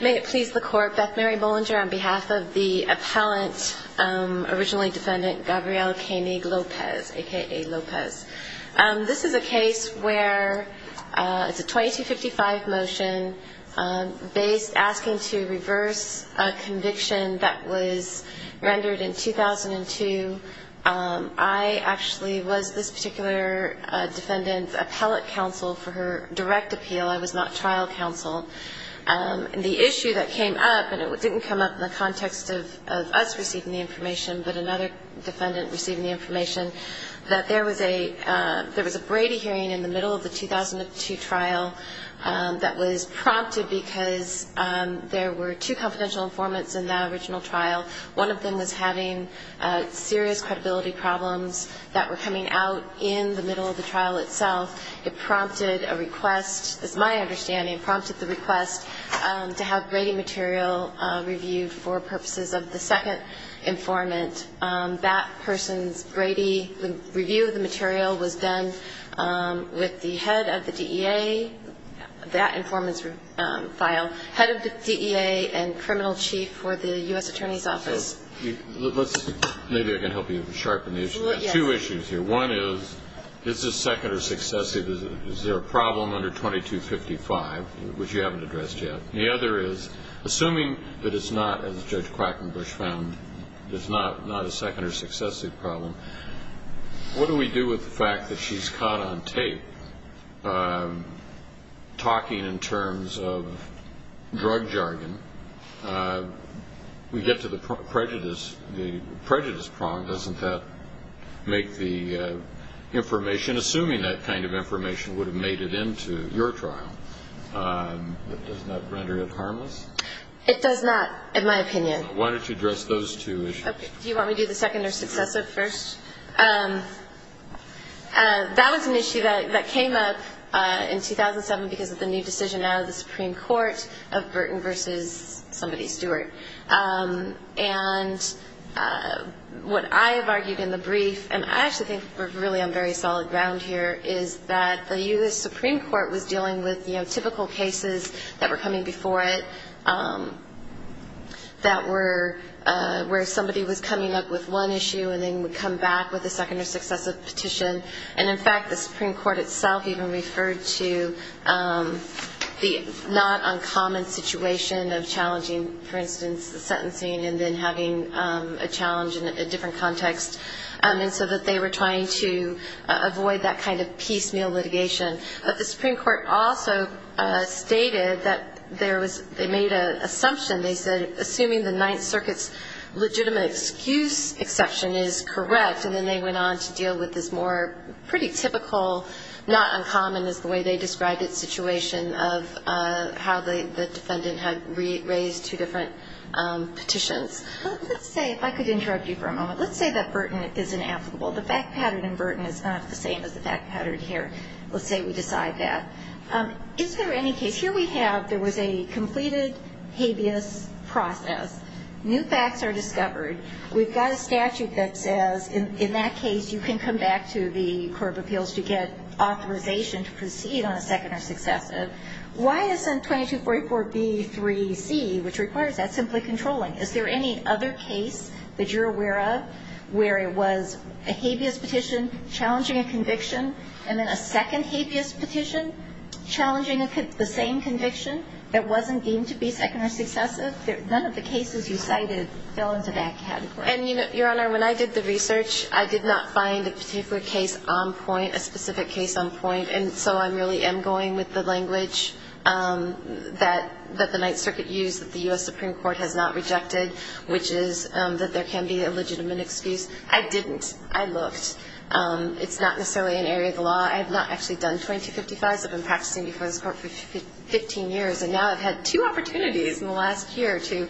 May it please the court, Beth Mary Bollinger on behalf of the appellant, originally defendant Gabrielle Koenig-Lopez, a.k.a. Lopez. This is a case where it's a 2255 motion asking to reverse a conviction that was rendered in 2002. I actually was this particular defendant's appellate counsel for her direct appeal. I was not trial counsel. And the issue that came up, and it didn't come up in the context of us receiving the information, but another defendant receiving the information, that there was a Brady hearing in the middle of the 2002 trial that was prompted because there were two confidential informants in that original trial. One of them was having serious credibility problems that were coming out in the middle of the trial itself. It prompted a request, as my understanding, prompted the request to have Brady material reviewed for purposes of the second informant. That person's Brady review of the material was done with the head of the DEA, that informant's file, head of the DEA and criminal chief for the U.S. Attorney's Office. So let's, maybe I can help you sharpen the issue. Yes. There are two issues here. One is, is this second or successive? Is there a problem under 2255, which you haven't addressed yet? The other is, assuming that it's not, as Judge Quackenbush found, it's not a second or successive problem, what do we do with the fact that she's caught on tape talking in terms of drug jargon? We get to the prejudice prong. Doesn't that make the information, assuming that kind of information would have made it into your trial, does that render it harmless? It does not, in my opinion. Why don't you address those two issues? Do you want me to do the second or successive first? That was an issue that came up in 2007 because of the new decision now of the Supreme Court of Burton versus somebody, Stewart. And what I have argued in the brief, and I actually think we're really on very solid ground here, is that the U.S. Supreme Court was dealing with, you know, typical cases that were coming before it, that were where somebody was coming up with one issue and then would come back with a second or successive petition. And, in fact, the Supreme Court itself even referred to the not uncommon situation of challenging, for instance, the sentencing and then having a challenge in a different context, and so that they were trying to avoid that kind of piecemeal litigation. But the Supreme Court also stated that they made an assumption. They said, assuming the Ninth Circuit's legitimate excuse exception is correct, and then they went on to deal with this more pretty typical not uncommon is the way they described it situation of how the defendant had raised two different petitions. Let's say, if I could interrupt you for a moment, let's say that Burton is inapplicable. The fact pattern in Burton is not the same as the fact pattern here. Let's say we decide that. Is there any case, here we have, there was a completed habeas process. New facts are discovered. We've got a statute that says, in that case, you can come back to the Court of Appeals to get authorization to proceed on a second or successive. Why isn't 2244B3C, which requires that, simply controlling? Is there any other case that you're aware of where it was a habeas petition challenging a conviction and then a second habeas petition challenging the same conviction that wasn't deemed to be second or successive? None of the cases you cited fell into that category. And, Your Honor, when I did the research, I did not find a particular case on point, a specific case on point. And so I really am going with the language that the Ninth Circuit used, that the U.S. Supreme Court has not rejected, which is that there can be a legitimate excuse. I didn't. I looked. It's not necessarily an area of the law. I have not actually done 2255s. I've been practicing before this Court for 15 years, and now I've had two opportunities in the last year to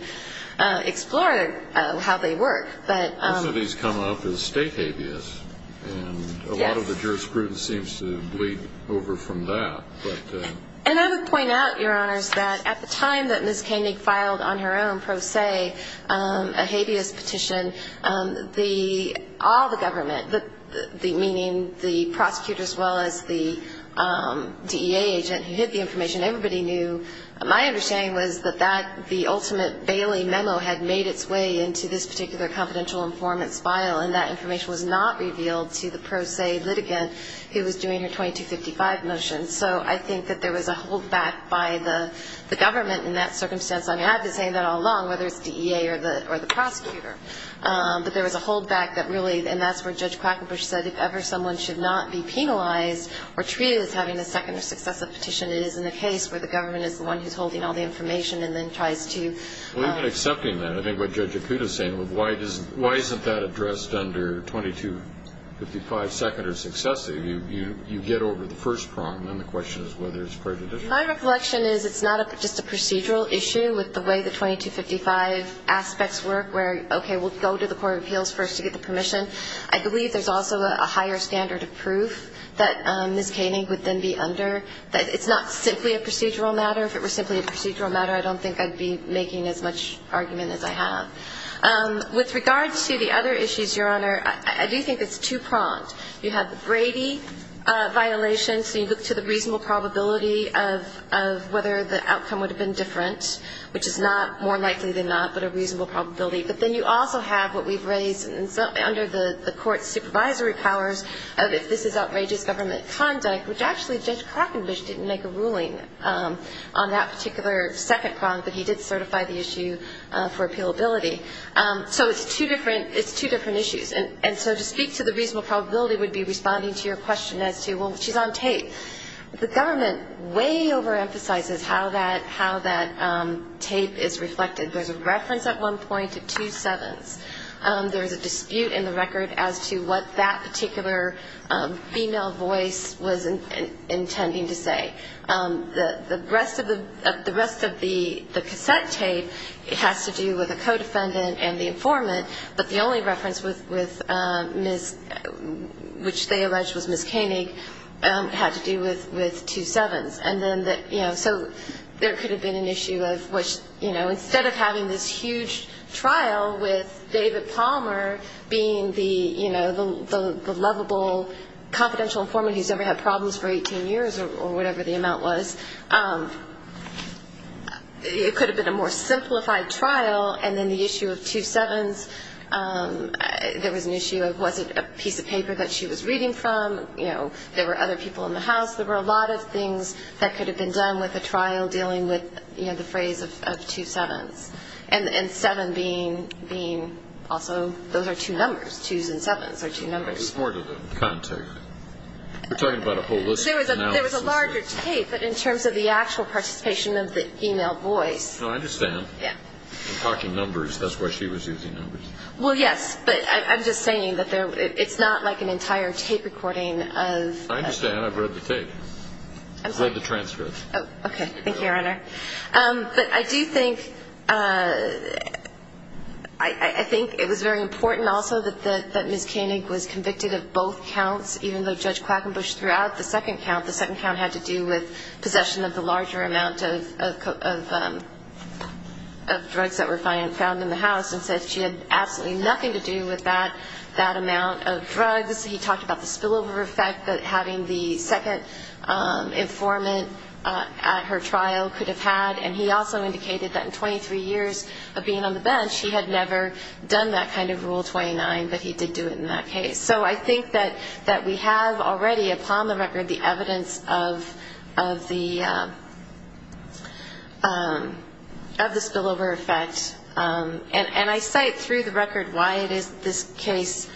explore how they work. Most of these come up as state habeas, and a lot of the jurisprudence seems to bleed over from that. And I would point out, Your Honors, that at the time that Ms. Koenig filed, on her own pro se, a habeas petition, all the government, meaning the prosecutor as well as the DEA agent who hid the information, everybody knew. My understanding was that the ultimate Bailey memo had made its way into this particular confidential informant's file, and that information was not revealed to the pro se litigant who was doing her 2255 motion. So I think that there was a holdback by the government in that circumstance. I mean, I've been saying that all along, whether it's DEA or the prosecutor. But there was a holdback that really ñ and that's where Judge Quackenbush said if ever someone should not be penalized or treated as having a second or successive petition, it is in the case where the government is the one who's holding all the information and then tries to ñ Well, even accepting that, I think what Judge Akuta is saying, why isn't that addressed under 2255 second or successive? You get over the first prong, and then the question is whether it's prejudicial. My recollection is it's not just a procedural issue with the way the 2255 aspects work, where, okay, we'll go to the court of appeals first to get the permission. I believe there's also a higher standard of proof that Ms. Koenig would then be under, that it's not simply a procedural matter. If it were simply a procedural matter, I don't think I'd be making as much argument as I have. With regards to the other issues, Your Honor, I do think it's two-pronged. You have the Brady violation, so you look to the reasonable probability of whether the outcome would have been different, which is not more likely than not, but a reasonable probability. But then you also have what we've raised under the court's supervisory powers of if this is outrageous government conduct, which actually Judge Crockenbush didn't make a ruling on that particular second prong, but he did certify the issue for appealability. So it's two different issues. And so to speak to the reasonable probability would be responding to your question as to, well, she's on tape. The government way overemphasizes how that tape is reflected. There's a reference at one point to two sevens. There is a dispute in the record as to what that particular female voice was intending to say. The rest of the cassette tape has to do with a co-defendant and the informant, but the only reference which they allege was Ms. Koenig had to do with two sevens. And then, you know, so there could have been an issue of which, you know, instead of having this huge trial with David Palmer being the, you know, the lovable confidential informant who's ever had problems for 18 years or whatever the amount was, it could have been a more simplified trial. And then the issue of two sevens, there was an issue of was it a piece of paper that she was reading from. You know, there were other people in the house. There were a lot of things that could have been done with a trial dealing with, you know, the phrase of two sevens. And seven being also those are two numbers. Twos and sevens are two numbers. We're talking about a whole list of analysis. There was a larger tape, but in terms of the actual participation of the female voice. No, I understand. Yeah. I'm talking numbers. That's why she was using numbers. Well, yes, but I'm just saying that it's not like an entire tape recording of... I understand. I've read the transcript. Okay. Thank you, Your Honor. But I do think... I think it was very important also that Ms. Koenig was convicted of both counts, even though Judge Quackenbush threw out the second count. The second count had to do with possession of the larger amount of drugs that were found in the house and said she had absolutely nothing to do with that amount of drugs. He talked about the spillover effect that having the second informant at her trial could have had. And he also indicated that in 23 years of being on the bench, he had never done that kind of Rule 29, but he did do it in that case. So I think that we have already upon the record the evidence of the spillover effect. And I cite through the record why this case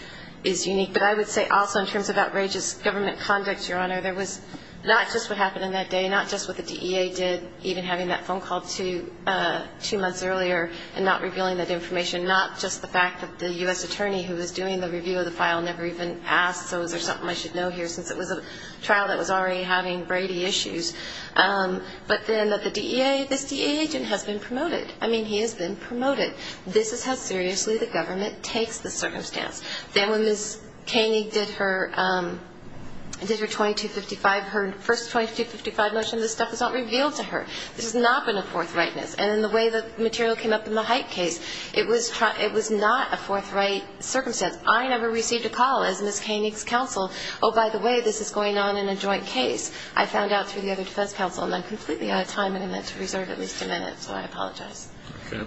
is unique. But I would say also in terms of outrageous government conduct, Your Honor, there was not just what happened in that day, not just what the DEA did, even having that phone call two months earlier and not revealing that information, not just the fact that the U.S. attorney who was doing the review of the file never even asked, so is there something I should know here, since it was a trial that was already having Brady issues, but then that the DEA, this DEA agent has been promoted. I mean, he has been promoted. This is how seriously the government takes the circumstance. Then when Ms. Koenig did her 2255, her first 2255 motion, this stuff was not revealed to her. This has not been a forthrightness. And in the way the material came up in the Height case, it was not a forthright circumstance. I never received a call as Ms. Koenig's counsel, oh, by the way, this is going on in a joint case. I found out through the other defense counsel, and I'm completely out of time, and I'm meant to reserve at least a minute, so I apologize. Okay.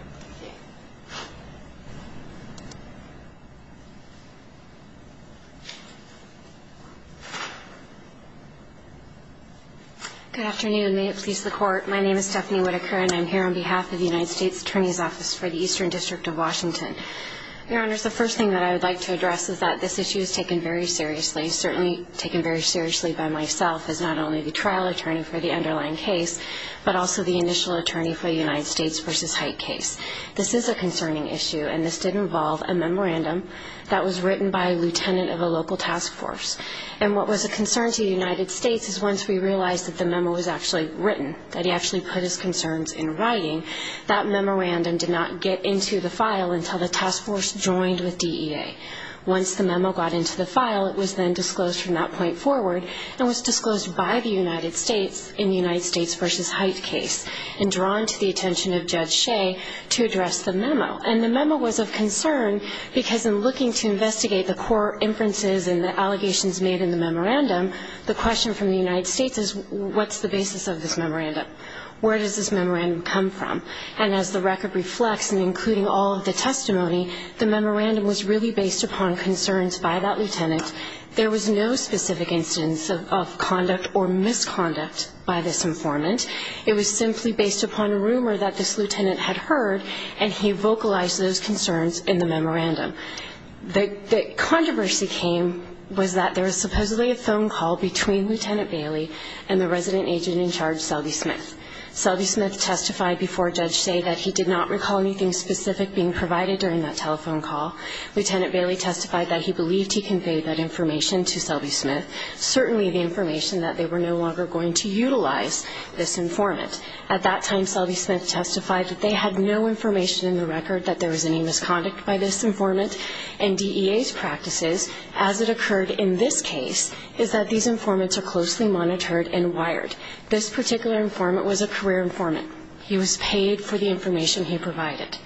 Good afternoon. May it please the Court. My name is Stephanie Whitaker, and I'm here on behalf of the United States Attorney's Office for the Eastern District of Washington. Your Honors, the first thing that I would like to address is that this issue is taken very seriously, certainly taken very seriously by myself as not only the trial attorney for the underlying case, but also the initial attorney for the United States v. Height case. This is a concerning issue, and this did involve a memorandum that was written by a lieutenant of a local task force. And what was a concern to the United States is once we realized that the memo was actually written, that he actually put his concerns in writing, that memorandum did not get into the file until the task force joined with DEA. Once the memo got into the file, it was then disclosed from that point forward and was disclosed by the United States in the United States v. Height case and drawn to the attention of Judge Shea to address the memo. And the memo was of concern because in looking to investigate the core inferences and the allegations made in the memorandum, the question from the United States is, what's the basis of this memorandum? Where does this memorandum come from? And as the record reflects, and including all of the testimony, the memorandum was really based upon concerns by that lieutenant. There was no specific instance of conduct or misconduct by this informant. It was simply based upon a rumor that this lieutenant had heard, and he vocalized those concerns in the memorandum. The controversy was that there was supposedly a phone call between Lieutenant Bailey and the resident agent in charge, Selby Smith. Selby Smith testified before Judge Shea that he did not recall anything specific being provided during that telephone call. Lieutenant Bailey testified that he believed he conveyed that information to Selby Smith, certainly the information that they were no longer going to utilize this informant. At that time, Selby Smith testified that they had no information in the record that there was any misconduct by this informant. And DEA's practices, as it occurred in this case, is that these informants are closely monitored and wired. This particular informant was a career informant. He was paid for the information he provided.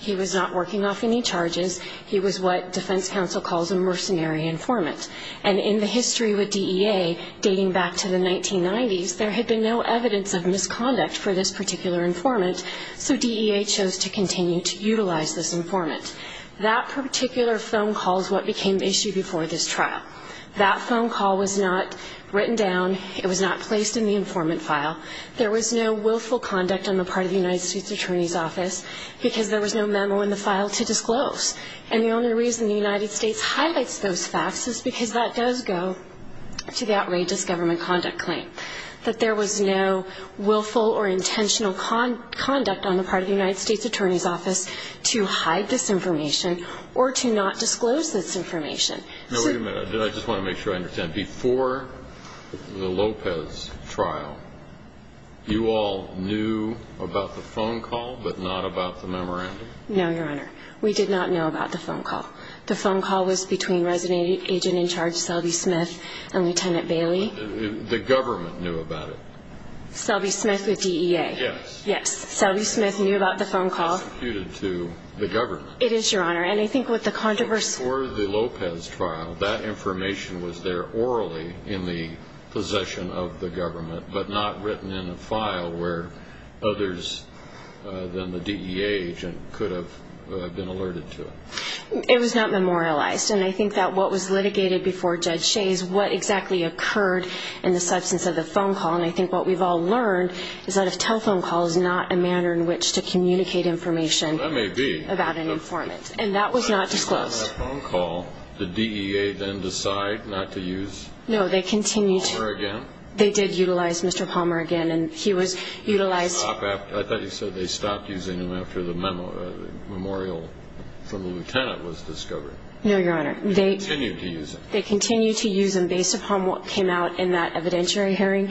He was not working off any charges. He was what defense counsel calls a mercenary informant. And in the history with DEA, dating back to the 1990s, there had been no evidence of misconduct for this particular informant, so DEA chose to continue to utilize this informant. That particular phone call is what became the issue before this trial. That phone call was not written down. It was not placed in the informant file. There was no willful conduct on the part of the United States Attorney's Office because there was no memo in the file to disclose. And the only reason the United States highlights those facts is because that does go to the outrageous government conduct claim, that there was no willful or intentional conduct on the part of the United States Attorney's Office to hide this information or to not disclose this information. Now, wait a minute. I just want to make sure I understand. Before the Lopez trial, you all knew about the phone call but not about the memorandum? No, Your Honor. We did not know about the phone call. The phone call was between resident agent in charge, Selby Smith, and Lieutenant Bailey. The government knew about it. Selby Smith with DEA. Yes. Yes. Selby Smith knew about the phone call. It was disputed to the government. It is, Your Honor. Before the Lopez trial, that information was there orally in the possession of the government but not written in a file where others than the DEA agent could have been alerted to it. It was not memorialized. And I think that what was litigated before Judge Shays, what exactly occurred in the substance of the phone call, and I think what we've all learned is that a telephone call is not a manner in which to communicate information about an informant. And that was not disclosed. After that phone call, did DEA then decide not to use Palmer again? No, they continued to. They did utilize Mr. Palmer again, and he was utilized. I thought you said they stopped using him after the memorial from the lieutenant was discovered. No, Your Honor. They continued to use him. They continued to use him based upon what came out in that evidentiary hearing,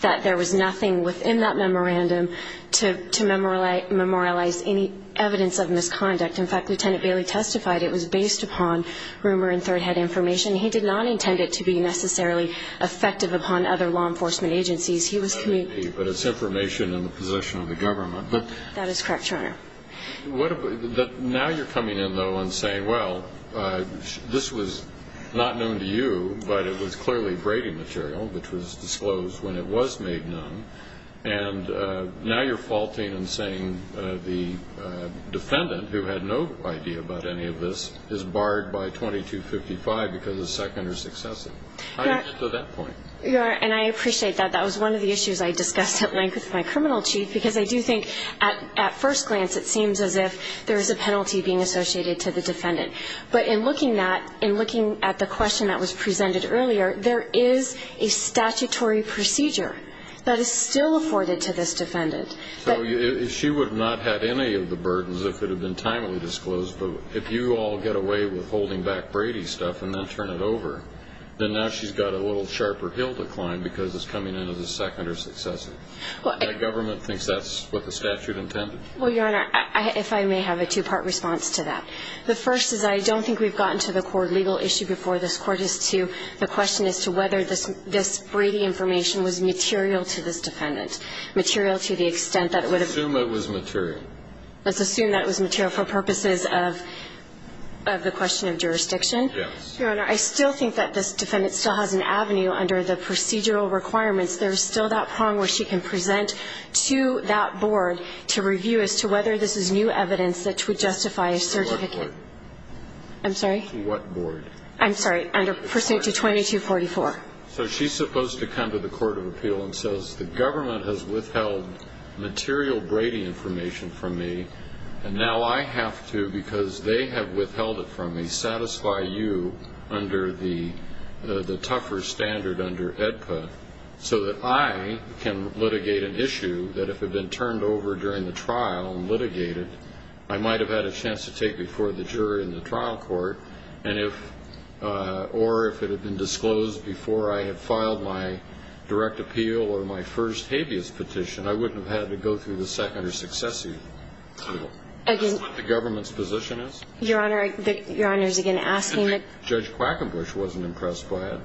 that there was nothing within that memorandum to memorialize any evidence of misconduct. In fact, Lieutenant Bailey testified it was based upon rumor and third-hand information. He did not intend it to be necessarily effective upon other law enforcement agencies. He was communicating. But it's information in the possession of the government. That is correct, Your Honor. Now you're coming in, though, and saying, well, this was not known to you, but it was clearly braiding material which was disclosed when it was made known. And now you're faulting and saying the defendant, who had no idea about any of this, is barred by 2255 because of second or successive. How do you get to that point? Your Honor, and I appreciate that. That was one of the issues I discussed at length with my criminal chief, because I do think at first glance it seems as if there is a penalty being associated to the defendant. But in looking at the question that was presented earlier, there is a statutory procedure that is still afforded to this defendant. So she would not have any of the burdens if it had been timely disclosed. But if you all get away with holding back Brady stuff and then turn it over, then now she's got a little sharper hill to climb because it's coming in as a second or successive. And the government thinks that's what the statute intended? Well, Your Honor, if I may have a two-part response to that. The first is I don't think we've gotten to the core legal issue before this Court as to the question as to whether this Brady information was material to this defendant, material to the extent that it would have been. Let's assume it was material. Let's assume that it was material for purposes of the question of jurisdiction. Yes. Your Honor, I still think that this defendant still has an avenue under the procedural requirements. There is still that prong where she can present to that board to review as to whether this is new evidence that would justify a certificate. To what board? I'm sorry? To what board? I'm sorry. Under Procedure 2244. So she's supposed to come to the Court of Appeal and says, the government has withheld material Brady information from me, and now I have to, because they have withheld it from me, satisfy you under the tougher standard under AEDPA so that I can litigate an issue that if it had been turned over during the trial and litigated, I might have had a chance to take before the jury in the trial court. And if, or if it had been disclosed before I had filed my direct appeal or my first habeas petition, I wouldn't have had to go through the second or successive trial. Again. That's what the government's position is. Your Honor, your Honor is again asking that. Judge Quackenbush wasn't impressed by it.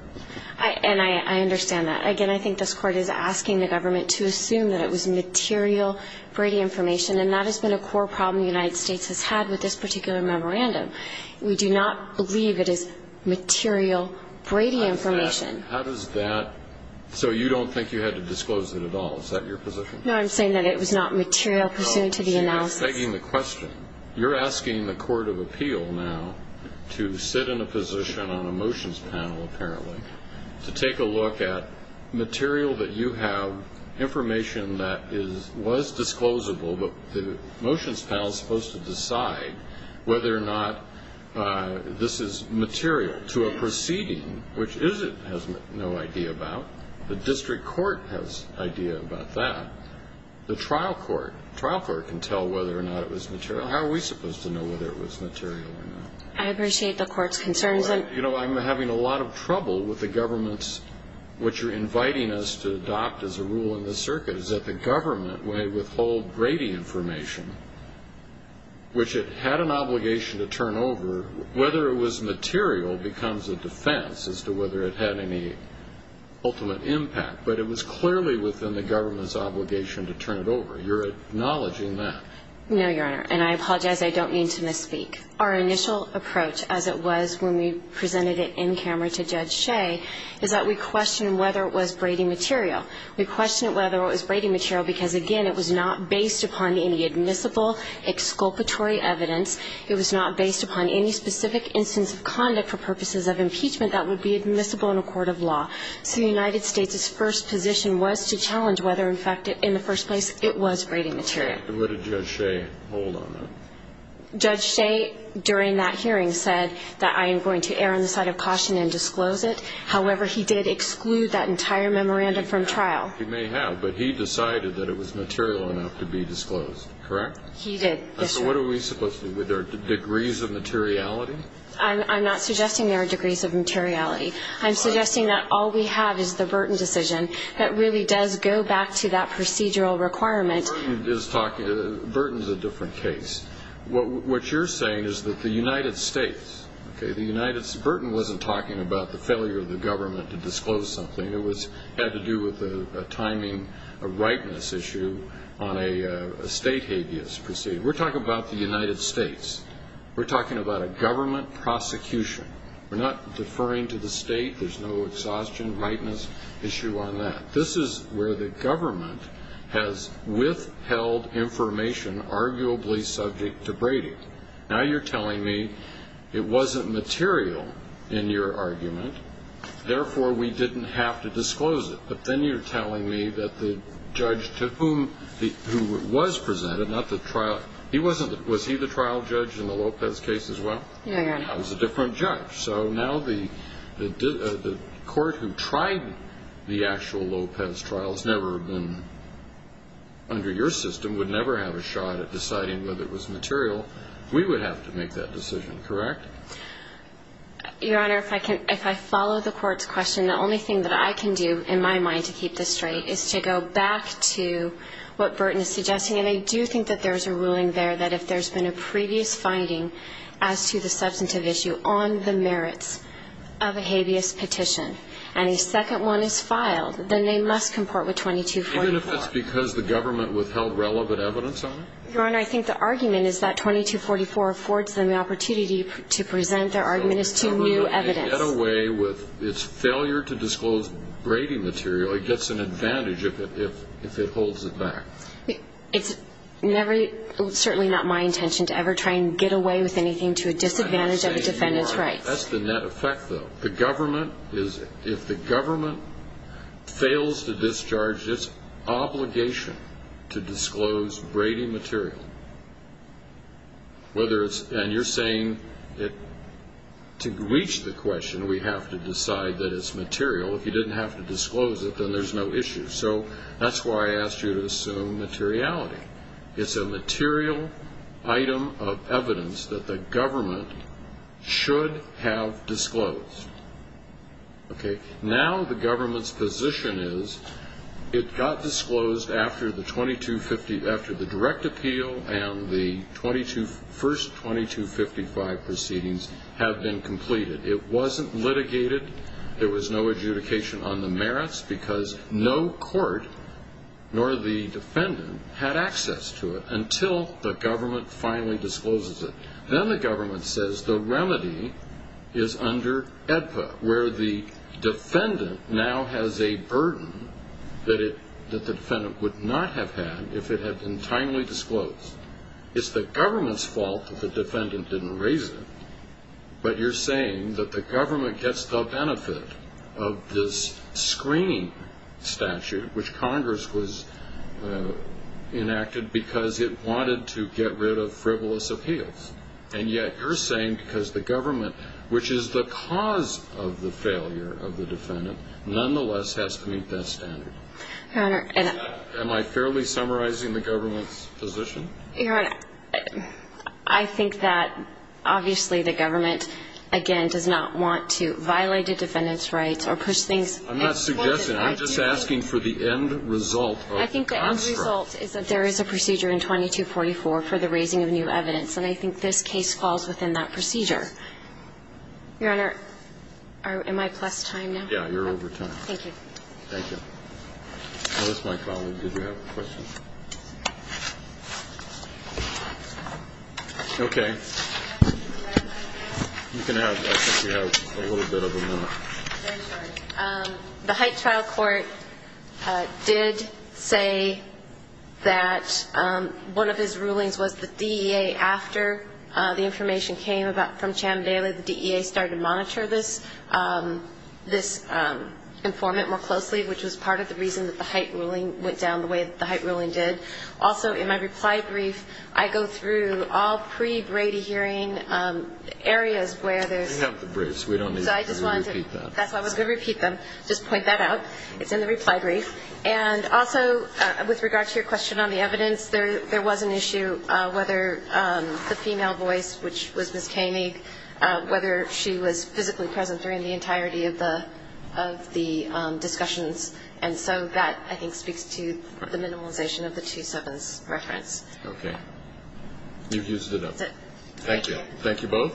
And I understand that. Again, I think this Court is asking the government to assume that it was material Brady information, and that has been a core problem the United States has had with this particular memorandum. We do not believe it is material Brady information. How does that, so you don't think you had to disclose it at all? Is that your position? No, I'm saying that it was not material pursuant to the analysis. You're asking the Court of Appeal now to sit in a position on a motions panel, apparently, to take a look at material that you have, information that was disclosable, but the motions panel is supposed to decide whether or not this is material to a proceeding, which it has no idea about. The district court has no idea about that. The trial court, the trial court can tell whether or not it was material. How are we supposed to know whether it was material or not? I appreciate the Court's concerns. You know, I'm having a lot of trouble with the government's, what you're inviting us to adopt as a rule in this circuit, is that the government may withhold Brady information, which it had an obligation to turn over, whether it was material becomes a defense as to whether it had any ultimate impact. But it was clearly within the government's obligation to turn it over. You're acknowledging that. No, Your Honor, and I apologize. I don't mean to misspeak. Our initial approach, as it was when we presented it in camera to Judge Shea, is that we question whether it was Brady material. We question whether it was Brady material because, again, it was not based upon any admissible exculpatory evidence. It was not based upon any specific instance of conduct for purposes of impeachment that would be admissible in a court of law. So the United States' first position was to challenge whether, in fact, in the first place, it was Brady material. And what did Judge Shea hold on that? Judge Shea, during that hearing, said that I am going to err on the side of caution and disclose it. However, he did exclude that entire memorandum from trial. He may have, but he decided that it was material enough to be disclosed. Correct? He did. So what are we supposed to do? Are there degrees of materiality? I'm not suggesting there are degrees of materiality. I'm suggesting that all we have is the Burton decision that really does go back to that procedural requirement. Burton is a different case. What you're saying is that the United States, okay, the United States, Burton wasn't talking about the failure of the government to disclose something. It had to do with a timing, a rightness issue on a state habeas proceeding. We're talking about the United States. We're talking about a government prosecution. We're not deferring to the state. There's no exhaustion, rightness issue on that. Now you're telling me it wasn't material in your argument, therefore we didn't have to disclose it. But then you're telling me that the judge to whom it was presented, not the trial, he wasn't, was he the trial judge in the Lopez case as well? No, Your Honor. That was a different judge. So now the court who tried the actual Lopez trial has never been under your system, would never have a shot at deciding whether it was material. We would have to make that decision, correct? Your Honor, if I follow the court's question, the only thing that I can do in my mind to keep this straight is to go back to what Burton is suggesting. And I do think that there's a ruling there that if there's been a previous finding as to the substantive issue on the merits of a habeas petition and a second one is filed, then they must comport with 2244. Even if it's because the government withheld relevant evidence on it? Your Honor, I think the argument is that 2244 affords them the opportunity to present their argument as to new evidence. The government can get away with its failure to disclose grating material. It gets an advantage if it holds it back. It's certainly not my intention to ever try and get away with anything to a disadvantage of a defendant's rights. That's the net effect, though. If the government fails to discharge its obligation to disclose grating material, and you're saying to reach the question we have to decide that it's material, if you didn't have to disclose it, then there's no issue. So that's why I asked you to assume materiality. It's a material item of evidence that the government should have disclosed. Now the government's position is it got disclosed after the direct appeal and the first 2255 proceedings have been completed. It wasn't litigated. There was no adjudication on the merits because no court nor the defendant had access to it until the government finally discloses it. Then the government says the remedy is under AEDPA, where the defendant now has a burden that the defendant would not have had if it had been timely disclosed. It's the government's fault that the defendant didn't raise it, but you're saying that the government gets the benefit of this screening statute which Congress was enacted because it wanted to get rid of frivolous appeals, and yet you're saying because the government, which is the cause of the failure of the defendant, nonetheless has to meet that standard. Am I fairly summarizing the government's position? Your Honor, I think that, obviously, the government, again, does not want to violate a defendant's rights or push things as far as it has to. I'm not suggesting. I'm just asking for the end result of the construct. I think the end result is that there is a procedure in 2244 for the raising of new evidence, and I think this case falls within that procedure. Your Honor, am I past time now? Yeah, you're over time. Thank you. Thank you. Alice, my colleague, did you have a question? Okay. You can have it. I think we have a little bit of a minute. I'm sorry. The Hyde Trial Court did say that one of his rulings was the DEA, after the information came from Chandler, the DEA started to monitor this informant more closely, which was part of the reason that the Hyde ruling went down the way that the Hyde ruling did. Also, in my reply brief, I go through all pre-Brady hearing areas where there's... We have the briefs. We don't need to repeat that. That's why I was going to repeat them, just point that out. It's in the reply brief. And also, with regard to your question on the evidence, there was an issue whether the female voice, which was Ms. Kamey, whether she was physically present during the entirety of the discussions. And so that, I think, speaks to the minimization of the 2-7s reference. Okay. You've used it up. That's it. Thank you. Thank you both.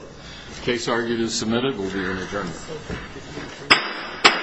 The case argued is submitted. We'll do an adjournment. Thank you.